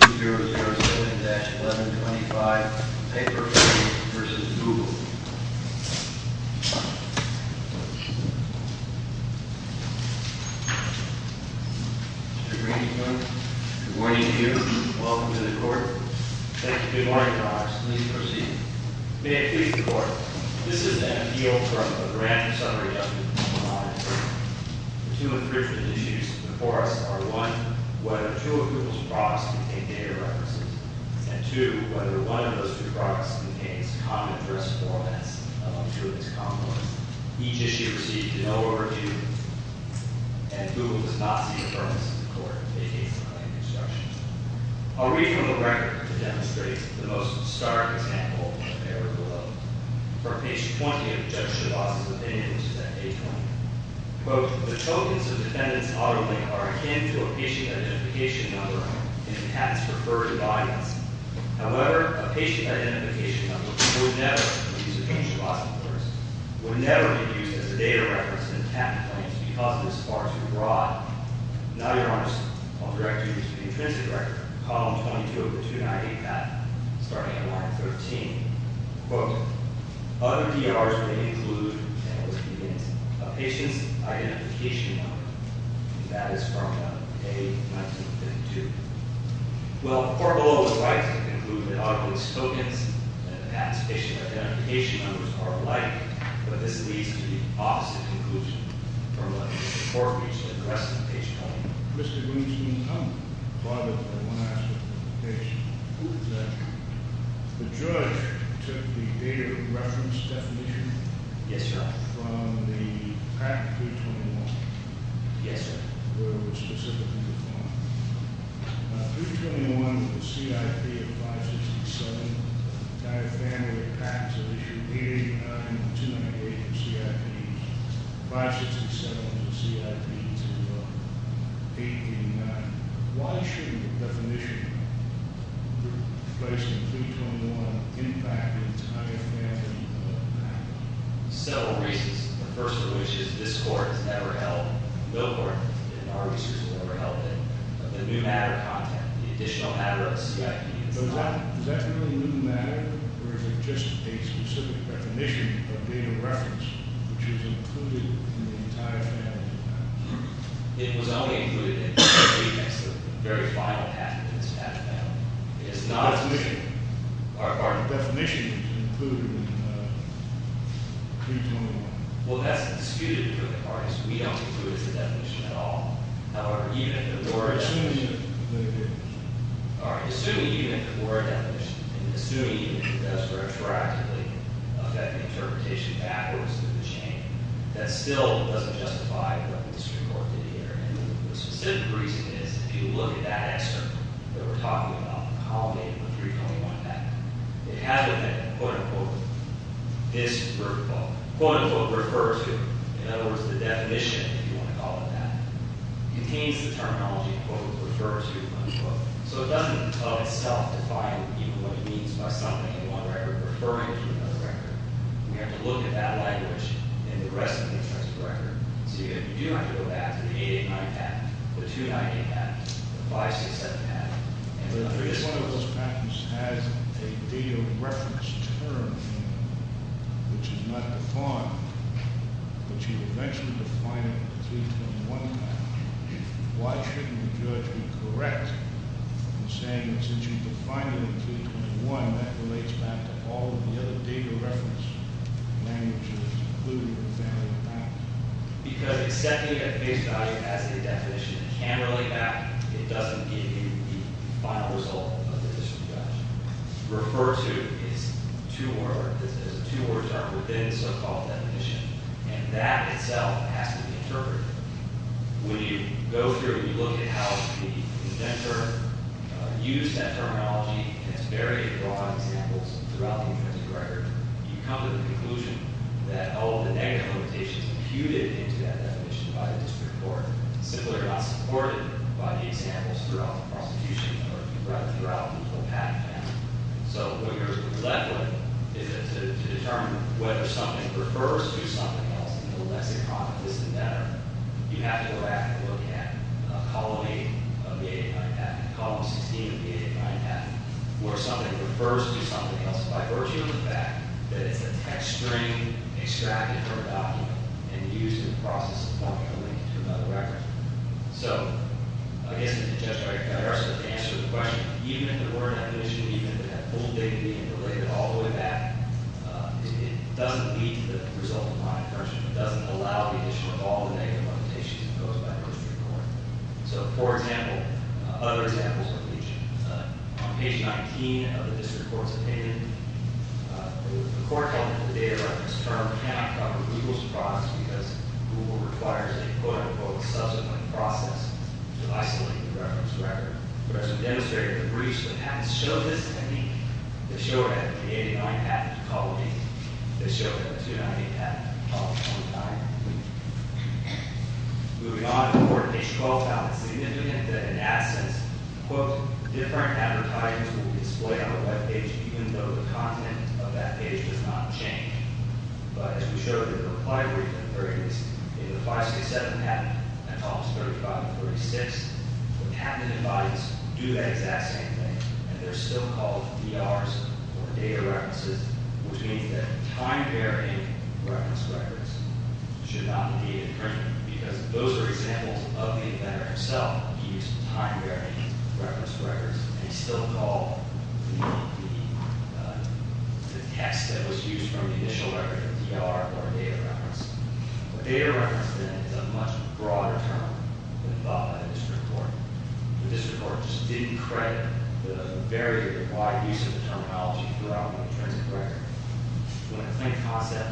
Mr. Greenspoon, good morning to you. Welcome to the Court. Thank you. Good morning, Your Honor. Please proceed. May it please the Court, this is an appeal for a grant summary of $25,000. The two infringement issues before us are, one, whether two of Google's products contain data references, and two, whether one of those two products contains common address formats among two of its companies. Each issue received no overview, and Google does not seek affirmation from the Court. May it please the Court. I'll read from the record to demonstrate the most stark example of error below. For page 20 of Judge Chabas's opinion, which is at page 20, quote, the tokens of defendant's auto link are akin to a patient identification number in the patent's preferred audience. However, a patient identification number would never, in the case of Judge Chabas's words, would never be used as a data reference in the patent claims because it is far too broad. Now, Your Honor, I'll direct you to the intrinsic record, column 22 of the 298 patent, starting at line 13. Quote, other PRs may include, and would be against, a patient's identification number. And that is from page 1952. Well, the Court below is right to conclude that auto link's tokens and patent's patient identification numbers are alike, but this leads to the opposite conclusion. Your Honor, let me report each address on page 20. Mr. Greenstein, come. Pardon me. I want to ask a question. Who is that? The judge took the data reference definition- Yes, sir. From the Patent 321. Yes, sir. Where it was specifically defined. 321 with a CIP of 567, entire family of patents of issue 889, and 298 with a CIP of 567 with a CIP to 889. Why shouldn't the definition placed in 321 impact the entire family of patents? Several reasons. The first of which is this Court has never held a bill court, and our research will never help it. The new matter content, the additional matter of a CIP is not- Is that really new matter, or is it just a specific definition of data reference, which is included in the entire family of patents? It was only included in the very final patent of this patent family. It is not- Our definition is included in 321. Well, that's disputed to the parties. We don't include it as a definition at all. However, even if it were a- Assuming it were a definition. All right. Assuming even if it were a definition, and assuming even if it does retroactively affect the interpretation afterwards of the change, that still doesn't justify what the District Court did here. And the specific reason is, if you look at that excerpt that we're talking about, the culminating of the 321 patent, it has with it, quote, unquote, this group of- quote, unquote, referred to. In other words, the definition, if you want to call it that, contains the terminology, quote, refer to, unquote. So it doesn't, of itself, define even what it means by something in one record referring to another record. We have to look at that language in the rest of the excerpts of the record. So you do have to go back to the 889 patent, the 298 patent, the 567 patent. If one of those patents has a data reference term in it, which is not defined, but you eventually define it in the 321 patent, why shouldn't the judge be correct in saying that since you defined it in 321, that relates back to all of the other data reference languages, including the family of patents? Because accepting a case value as a definition can relate back. It doesn't give you the final result of the district judge. Refer to is two-word. There's a two-word term within the so-called definition. And that itself has to be interpreted. When you go through and you look at how the inventor used that terminology and it's very broad examples throughout the entire record, you come to the conclusion that all of the negative limitations imputed into that definition by the district court, simply are not supported by the examples throughout the prosecution or throughout the patent panel. So what you're left with is to determine whether something refers to something else in the lexicon of this inventor. You have to go back and look at column 8 of the 889 patent, column 16 of the 889 patent, where something refers to something else by virtue of the fact that it's a text string extracted from a document and used in the process of pointing a link to another record. So I guess to answer the question, even if there were not an issue, even if it had full dignity and related all the way back, it doesn't lead to the result of my assertion. It doesn't allow the issue of all the negative limitations imposed by the district court. So, for example, other examples of leaching. On page 19 of the district court's opinion, the court called the data reference term cannot cover Google's process because Google requires a, quote-unquote, subsequent process to isolate the reference record. Whereas the demonstrator of the breach of the patent showed this to me, it showed that the 889 patent called me, it showed that the 298 patent called me one time. Moving on to court, page 12 found it significant that in that sense, quote, different advertisers will display on a web page even though the content of that page does not change. But as we showed in the reply brief in the 30s, in the 567 patent and Thomas 35 and 36, the patent and device do that exact same thing, and they're still called DRs or data references, which means that time-varying reference records should not be imprinted because those are examples of the inventor himself. He used time-varying reference records, and he still called the text that was used from the initial record a DR or a data reference. A data reference, then, is a much broader term than the bottom of the district court. The district court just didn't credit the very wide use of the terminology throughout the intrinsic record. When a claim concept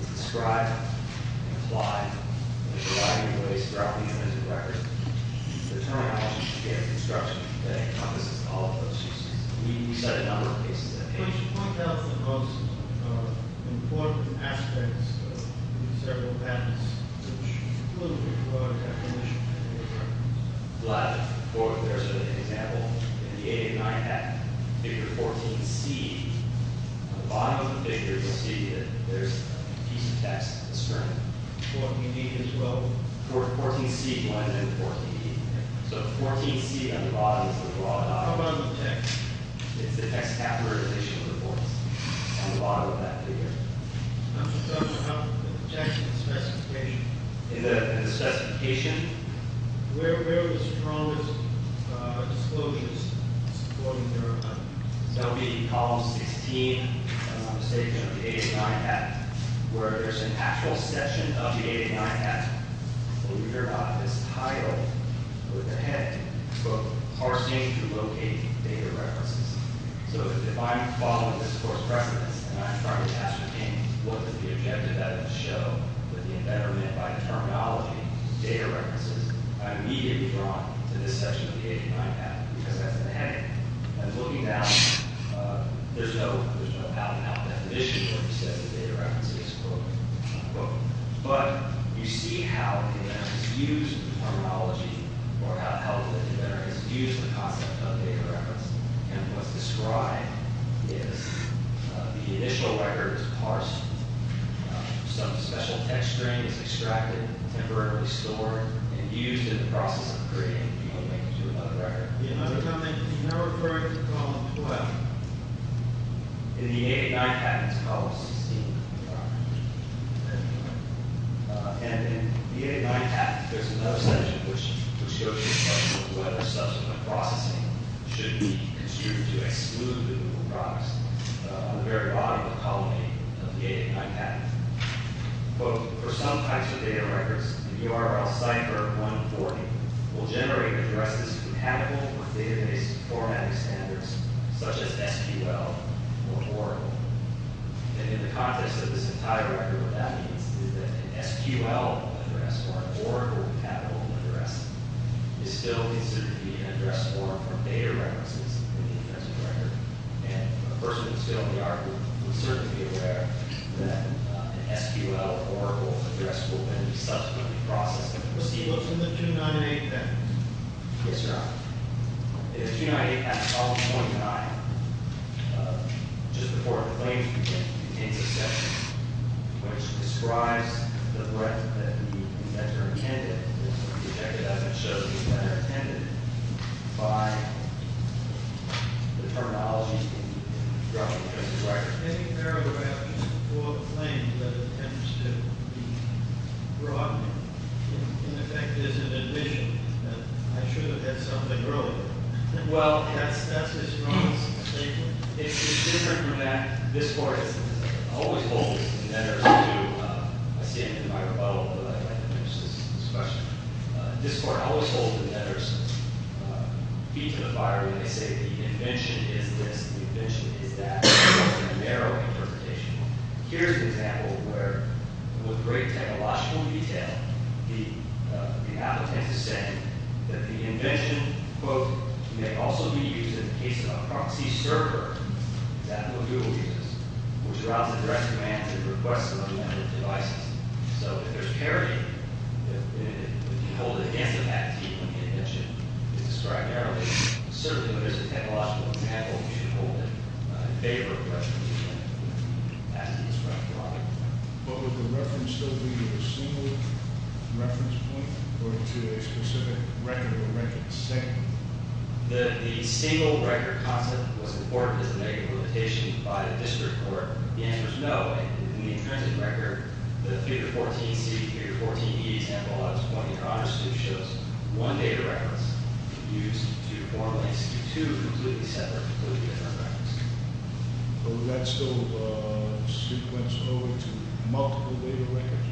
is described and applied in a variety of ways throughout the intrinsic record, the terminology is the same construction that encompasses all of those uses. We studied a number of cases in that case. But you should point out the most important aspects of these several patents, which include the drug definition and the drug use. Gladly. There's an example in the 89 patent, figure 14C. On the bottom of the figure, you'll see that there's a piece of text, a sermon. 14B and 12? 14C, 1, and 14B. So 14C on the bottom is the raw document. How about the text? It's the text capitalization of the courts on the bottom of that figure. So how about the text in the specification? In the specification? Where were the strongest disclosures supporting their argument? That would be column 16, if I'm not mistaken, of the 89 patent, where there's an actual section of the 89 patent where we hear about this title with the head, quote, parsing to locate data references. So if I'm following this court's precedence and I'm trying to ascertain what the objective evidence show with the impediment by terminology to data references, I immediately draw to this section of the 89 patent because that's the heading. I'm looking down. There's no out-and-out definition where he says the data reference is, quote, unquote. But you see how the inventor has used the terminology or how the inventor has used the concept of data reference. And what's described is the initial record is parsed. Some special text string is extracted, temporarily stored, and used in the process of creating a new record. You're not referring to column 12. In the 889 patent, it's column 16. And in the 889 patent, there's another section which goes into whether subsequent processing should be considered to exclude the new products on the very body of column 8 of the 889 patent. Quote, for some types of data records, the URL cipher 140 will generate addresses compatible with database formatting standards such as SQL or Oracle. And in the context of this entire record, what that means is that an SQL address or an Oracle compatible address is still considered to be an address form for data references in the inventor's record. And a person who's filled in the article would certainly be aware that an SQL or Oracle address will then be subsequently processed in the proceedings of the 298 patent. Yes, Your Honor. The 298 patent, column 29, just before the claims begin, contains a section which describes the threat that the inventor intended. It doesn't show that the inventor intended by the terminology in the record. Any paragraph before the claim that attempts to be broadened, in effect, is an admission that I should have had something earlier. Well, that's his promise. It's different from that. This Court always holds inventors to, I see it in my rebuttal, but I have to finish this question. This Court always holds inventors feet to the fire when they say the invention is this, the invention is that. It's a narrow interpretation. Here's an example where, with great technological detail, the applicant is saying that the invention, quote, may also be used in the case of a proxy server, that's what Google uses, which allows the direct command to request some other devices. So if there's parity, if you hold it against the patentee when the invention is described, certainly, but as a technological example, you should hold it in favor of the reference. But would the reference still be a single reference point, or to a specific record of a record? The single record concept was important as a negative limitation by the district court. The answer is no. In the intrinsic record, the 3-14C, 3-14E example, at this point in Congress, shows one data reference used to form an executive, two completely separate, completely different records. So let's go sequence over to multiple data records.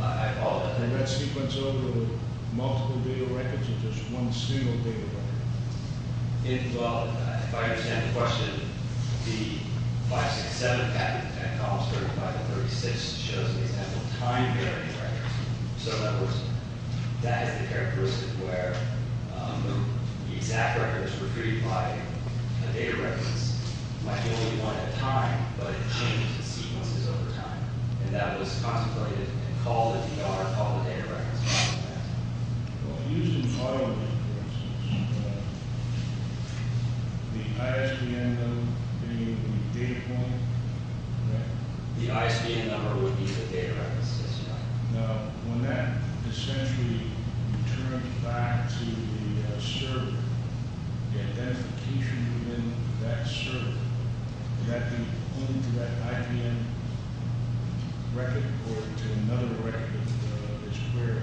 I apologize. Let's sequence over to multiple data records, or just one single data record. Well, if I understand the question, the 567 patent at Columns 35 and 36 shows, for example, time-varying records. So that is the characteristic where the exact records retrieved by a data reference might be only one at a time, but it changes in sequences over time. And that was contemplated and called a DR, called a data reference. Well, if you use an audio reference, would the ISBN number be the data point? The ISBN number would be the data reference, yes or no? No. When that essentially returns back to the server, the identification within that server, would that be linked to that IPN record or to another record of this query?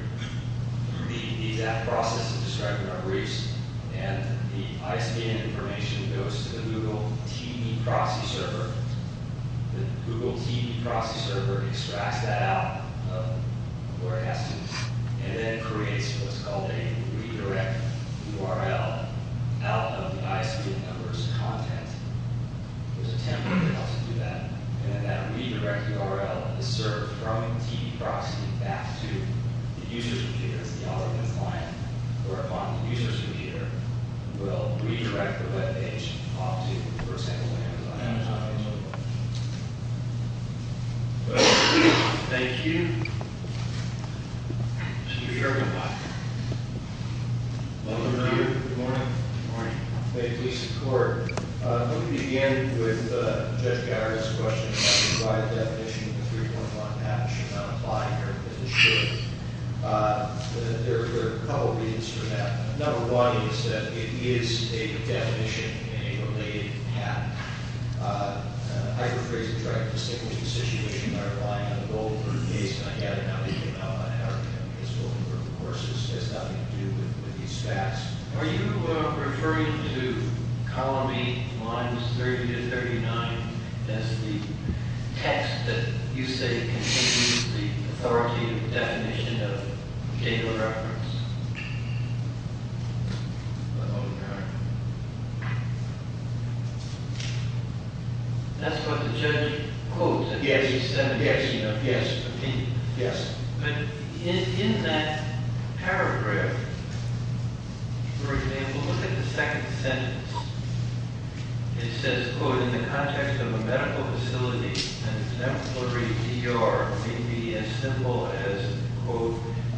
The exact process is described in our briefs, and the ISBN information goes to the Google TV proxy server. The Google TV proxy server extracts that out of the broadcasts and then creates what's called a redirect URL out of the ISBN number's content. There's a template that helps you do that. And then that redirect URL is served from the TV proxy back to the user's computer, that's the audio compliant, or upon the user's computer, we'll redirect the web page off to, for example, Amazon. Thank you. Mr. Sherman. Good morning. Good morning. May it please the Court. Let me begin with Judge Gower's question about the wide definition of the three-point line and how it should not apply here, but it should. There are a couple of reasons for that. Number one is that it is a definition and a related path. I rephrase the term, I'm sticking to the situation that I'm applying on the Goldberg case, and I have it now, even though I'm not an academic historian, of course, this has nothing to do with these facts. Are you referring to column 8, lines 30 to 39, that's the text that you say contains the authoritative definition of a particular reference? That's what the judge quotes. Yes. Yes. Yes. But in that paragraph, for example, look at the second sentence. It says, quote, in the context of a medical facility, an exemplary PR may be as simple as, quote,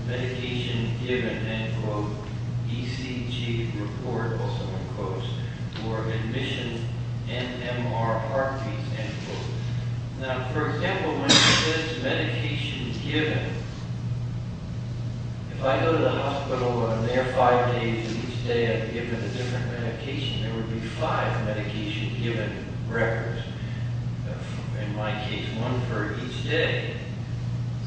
medication given, end quote, ECG report, also in quotes, or admission NMR heartbeats, end quote. Now, for example, when it says medication given, if I go to the hospital, and I'm there five days each day, I'm given a different medication, there would be five medication given records. In my case, one for each day.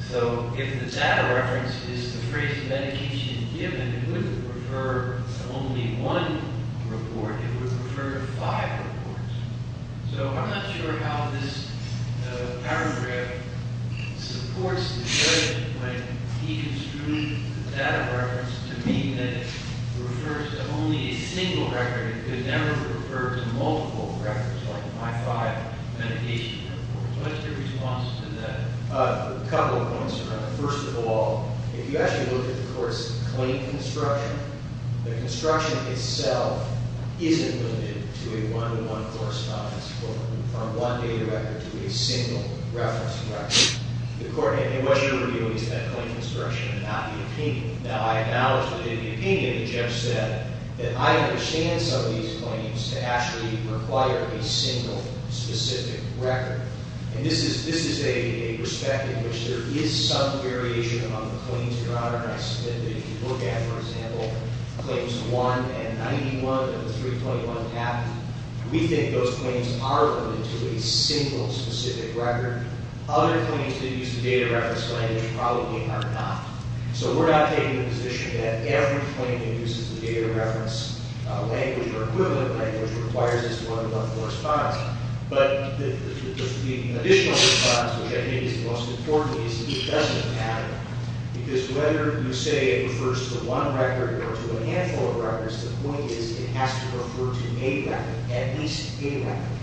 So if the data reference is the phrase medication given, it wouldn't refer to only one report, it would refer to five reports. So I'm not sure how this paragraph supports the judge when he construed the data reference to mean that it refers to only a single record. It could never refer to multiple records, like my five medication reports. What's your response to that? A couple of points around that. First of all, if you actually look at the court's claim construction, the construction itself isn't limited to a one-to-one correspondence, quote, from one data record to a single reference record. The court, and it was your review, is that claim construction and not the opinion. Now, I acknowledge that in the opinion, the judge said that I understand some of these claims to actually require a single specific record. And this is a perspective in which there is some variation among the claims that are on our list, that if you look at, for example, claims 1 and 91 of the 3.1 patent, we think those claims are limited to a single specific record. Other claims that use the data reference language probably are not. So we're not taking the position that every claim that uses the data reference language or equivalent language requires this one-to-one correspondence. But the additional correspondence, which I think is most important, is the adjustment pattern. Because whether you say it refers to one record or to a handful of records, the point is it has to refer to a record, at least a record.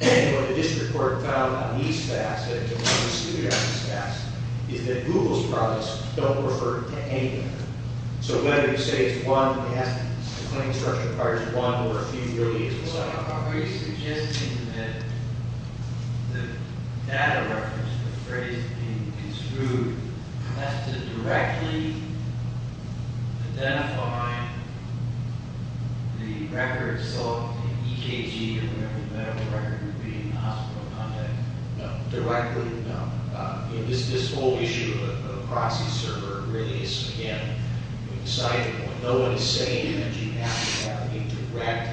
And what the district court found on these facts, and it's a really serious fact, is that Google's products don't refer to any record. So whether you say it's one record, the claim structure requires one or a few billions of dollars. Are we suggesting that the data reference, the phrase being construed, has to directly identify the records, so an EKG or whatever the medical record would be, a hospital contact? No, directly no. This whole issue of a proxy server really is, again, exciting. When no one is saying anything, you have to have a direct,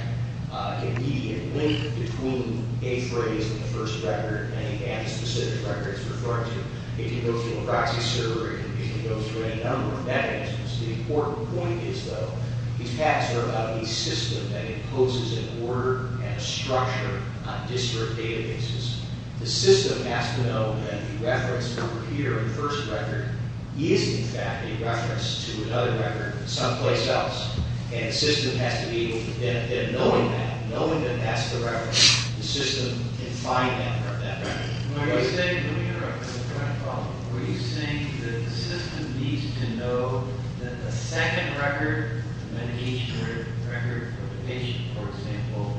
an immediate link between a phrase and the first record, and a specific record it's referring to. It can go through a proxy server, it can go through a number of methods. The important point is, though, these facts are about a system that imposes an order and a structure on district databases. The system has to know that the reference, over here on the first record, is, in fact, a reference to another record, someplace else. And the system has to be able to benefit knowing that, knowing that that's the record. The system can find that record. When you were saying, let me interrupt, you were saying that the system needs to know that the second record, the medication record for the patient, for example,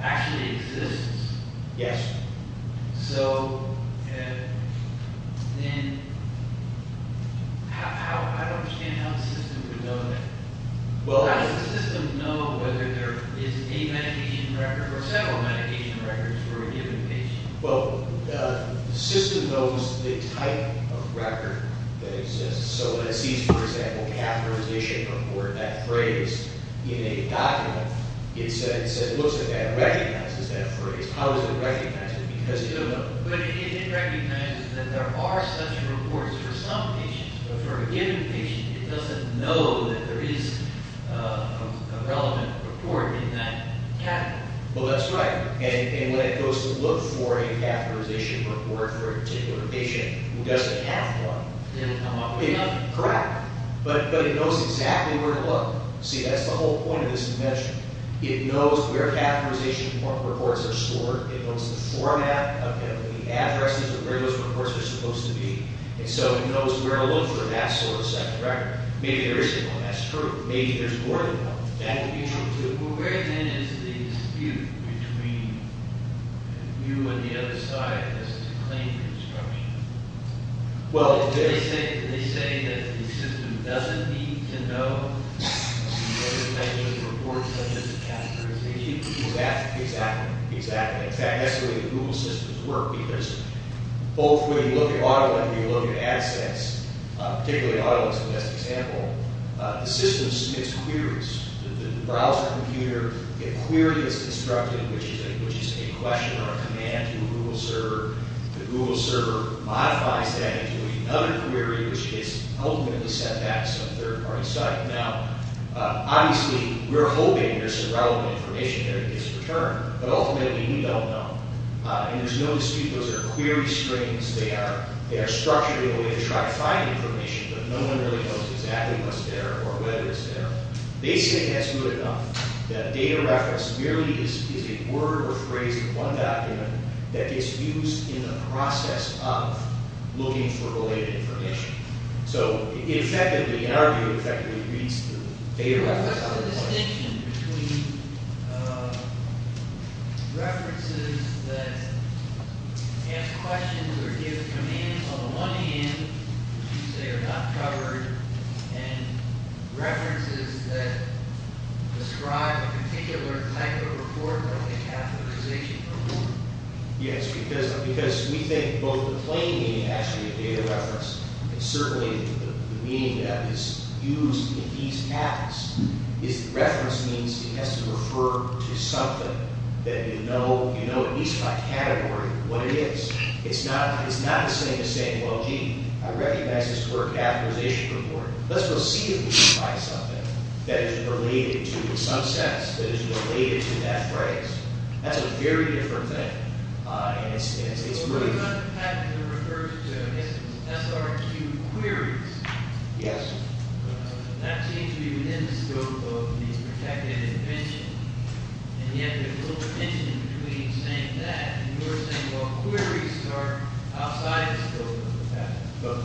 actually exists. Yes. So, then, I don't understand how the system would know that. How does the system know whether there is a medication record or several medication records for a given patient? Well, the system knows the type of record that exists. So, when it sees, for example, catheterization or that phrase in a document, it says, it looks at that and recognizes that phrase. How does it recognize it? Because it doesn't know. But it recognizes that there are such reports for some patients. But for a given patient, it doesn't know that there is a relevant report in that category. Well, that's right. And when it goes to look for a catheterization report for a particular patient, who doesn't have one, it will come up with nothing. Correct. But it knows exactly where to look. See, that's the whole point of this dimension. It knows where catheterization reports are stored. It knows the format of the addresses and where those reports are supposed to be. And so, it knows where to look for that sort of second record. Maybe there isn't one. That's true. Maybe there's more than one. That could be true, too. Well, where, then, is the dispute between you and the other side as to claiming instruction? Well, they say that the system doesn't need to know the type of reports such as catheterization. Exactly. Exactly. In fact, that's the way the Google systems work because both when you look at AutoLens and when you look at AdSense, particularly AutoLens is the best example, the system submits queries. The browser computer, a query is constructed, which is a question or a command to a Google server. The Google server modifies that into another query, which is ultimately sent back to some third-party site. Now, obviously, we're hoping there's some relevant information there that gets returned. But ultimately, we don't know. And there's no dispute. Those are query strings. They are structured in a way to try to find information, but no one really knows exactly what's there or whether it's there. They say that's good enough that data reference merely is a word or phrase in one document that gets used in the process of looking for related information. So, it effectively, in our view, effectively reads the data reference. What's the distinction between references that ask questions or give commands on the one hand, which you say are not covered, and references that describe a particular type of report or a categorization? Yes, because we think both the plain meaning actually of data reference and certainly the meaning that is used in these patents is that reference means it has to refer to something that you know you know at least by category what it is. It's not the same as saying, well, gee, I recognize this for a categorization report. Let's go see if we can find something that is related to, in some sense, that is related to that phrase. That's a very different thing. And it's really... What about the patent that refers to SRQ queries? Yes. That seems to be within the scope of these protected inventions. And yet there's a little tension between saying that and you're saying, well, queries are outside the scope of the patent.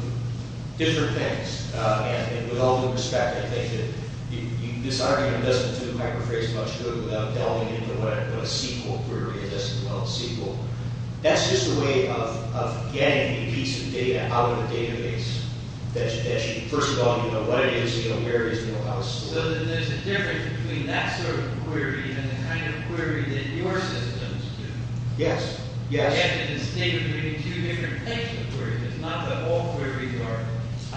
Different things. And with all due respect, I think that this argument doesn't do the microphrase much good without delving into what a SQL query is, as well as SQL. That's just a way of getting a piece of data out of a database that should, first of all, you know what it is, you know where it is, you know how it's stored. There's a difference between that sort of query and the kind of query that your systems do. Yes. Yes. In the state of doing two different types of queries. It's not that all queries are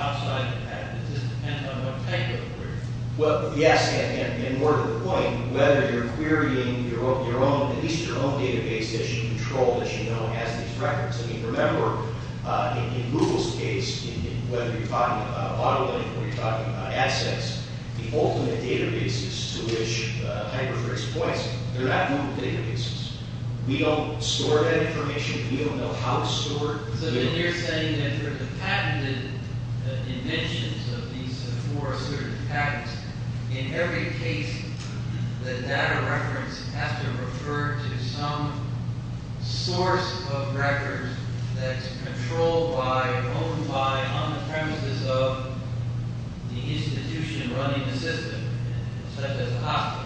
outside the patent. It just depends on what type of query. Well, yes. And more to the point, whether you're querying at least your own database that you control, that you know has these records. Remember, in Google's case, whether you're talking about auto lending or you're talking about assets, the ultimate databases to which the microphrase applies, they're not Google databases. We don't store that information. We don't know how it's stored. So then you're saying that for the patented inventions of these for certain patents, in every case, the data reference has to refer to some source of records that's controlled by or owned by on the premises of the institution running the system, such as a hospital.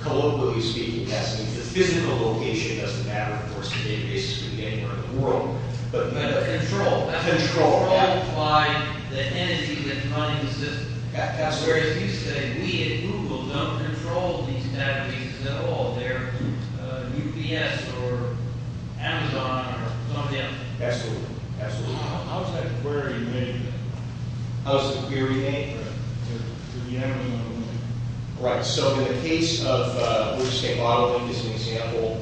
Globally speaking, yes. The physical location doesn't matter. Of course, the database can be anywhere in the world. But the control. Control. That's controlled by the entity that's running the system. That's right. So as you say, we at Google don't control these databases at all. They're UPS or Amazon or somebody else. Absolutely. Absolutely. How is that query made? How is the query made? To the end. Right. So in the case of let's say modeling is an example.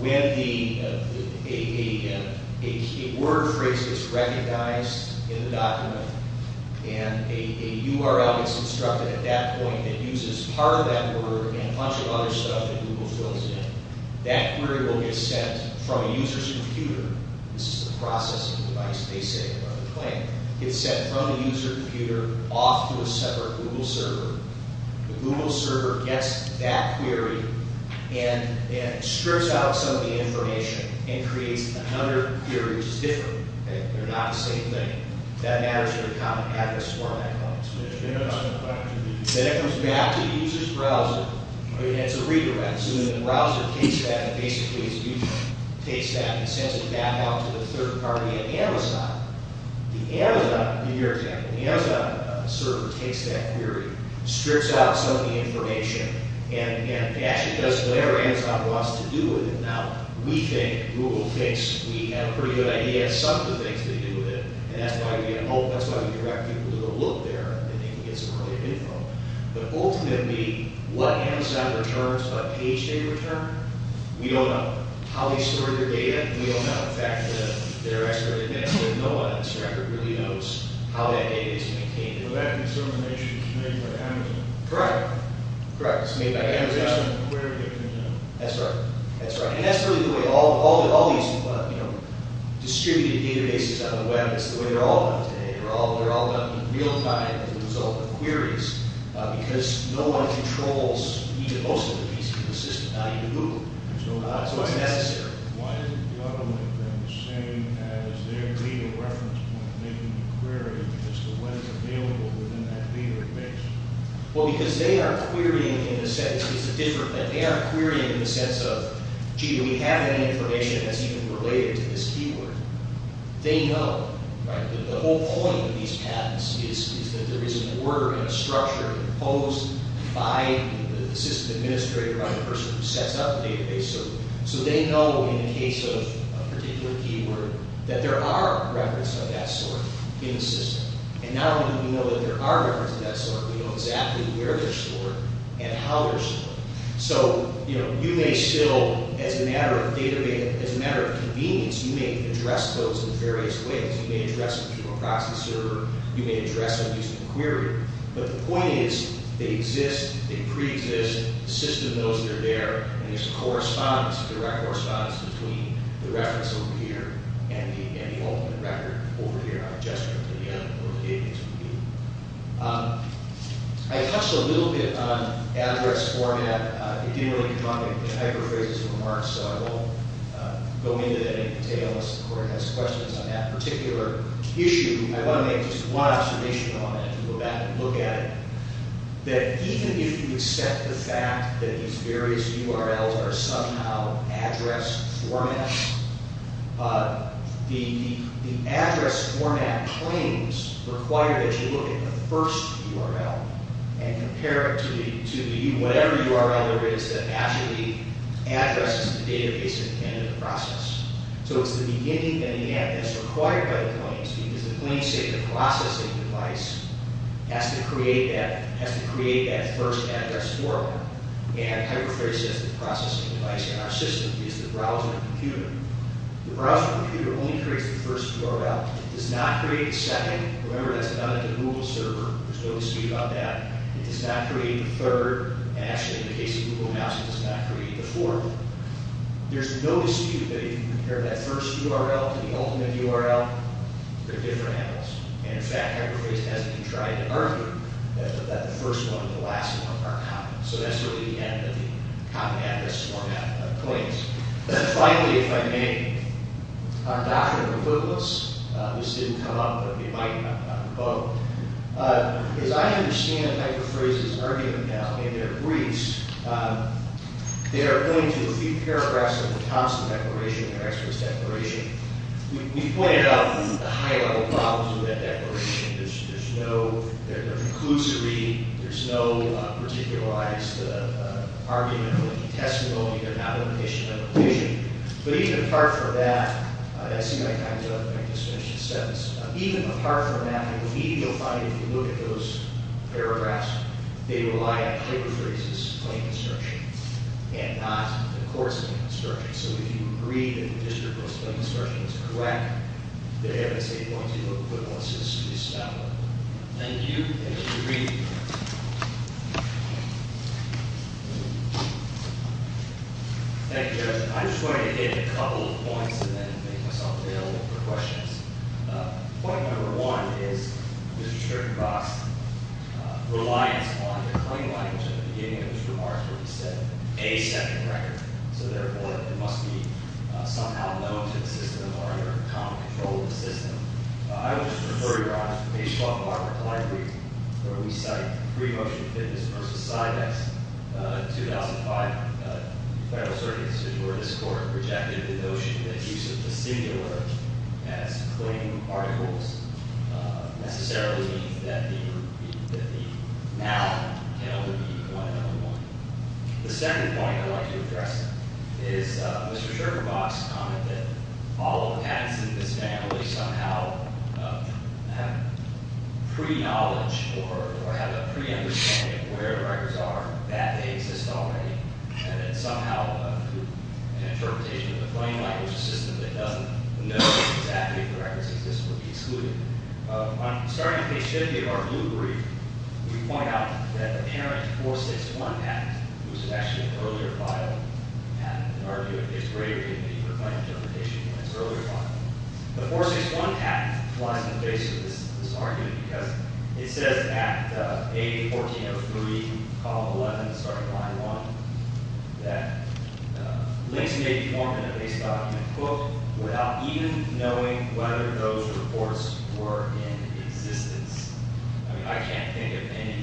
When the a a a word phrase is recognized in the document and a a URL is constructed at that point that uses part of that word and a bunch of other stuff that Google fills in, that query will get sent from a user's computer. This is the processing device they say or the claim. It's sent from a user's computer off to a separate Google server. The Google server gets that query and and strips out some of the information and creates another query which is different. Okay. They're not the same thing. That matters to the common address format points. Then it comes back to the user's browser and it's a redirect. So then the browser takes that and basically as a user takes that and sends it back out to the third party at Amazon. The Amazon you hear exactly. The Amazon server takes that query strips out some of the information and and actually does whatever Amazon wants to do with it. Now, we think Google thinks we have a pretty good idea of some of the things to do with it and that's why we get oh, that's why we direct people to go look there and they can get some earlier info. But ultimately what Amazon returns what page they return we don't know. We don't know how they store their data and we don't know the fact that they're actually there. No one on this record really knows how that data is maintained. That information is made by Amazon. Correct. It's made by Amazon. That's right. That's right. And that's really the way all these distributed databases on the web it's the way they're all done today. They're all done in real time as a result of queries because no one controls even most of the pieces of the system it's not even Google so it's necessary. Why is the government then saying as their legal reference point making the query as to what is available within that data base? Well, because they are querying in the sense it's a different they are querying in the sense of gee, do we have any information that's even related to this keyword? They know. The whole point of these patents is that there is an order and a structure imposed by the system administrator on the person who sets up the database so they know in the case of a particular keyword that there are references of that sort in the system and not only do we know that there are references of that sort but we know exactly where they're stored and how they're stored so, you know, you may still as a matter of data being as a matter of convenience you may address those in various ways you may address them through a processor you may address them using a query but the point is they exist they pre-exist the system knows they're there and there's a correspondence direct correspondence between the reference over here and the ultimate record over here on a gesture at the end of the database review. I touched a little bit on address format I didn't really come up with hyperphrases or remarks so I will go into that in detail unless the court has questions on that particular issue I want to make just one observation I want to go back and look at it that even if you accept the fact that these various URLs are somehow address formats the address format claims require that you look at the first URL and compare it to the whatever URL there is that actually addresses the database at the end of the process so it's the beginning and the end of the process has to create that first address format and hyperphrase processing device in our system is the browser and computer the browser and computer only creates the first URL it does not create the second remember that's what has been tried to argue that the first one and the last one are copied so that's really the end of the copy address format claims and finally if I may our doctrine of footnotes this didn't come up but it did think it's important to know that there's no particular argument but even apart from that even apart from that if you look at those paragraphs they rely on hyperphrases and not the words that are in the document so important to know that there's no particular argument but even apart from that even apart from the words that are in the document it says at page 1403 column 11 starting line 1 that links may be formed in a base document book without even knowing whether those reports were in existence I mean I can't think of anything more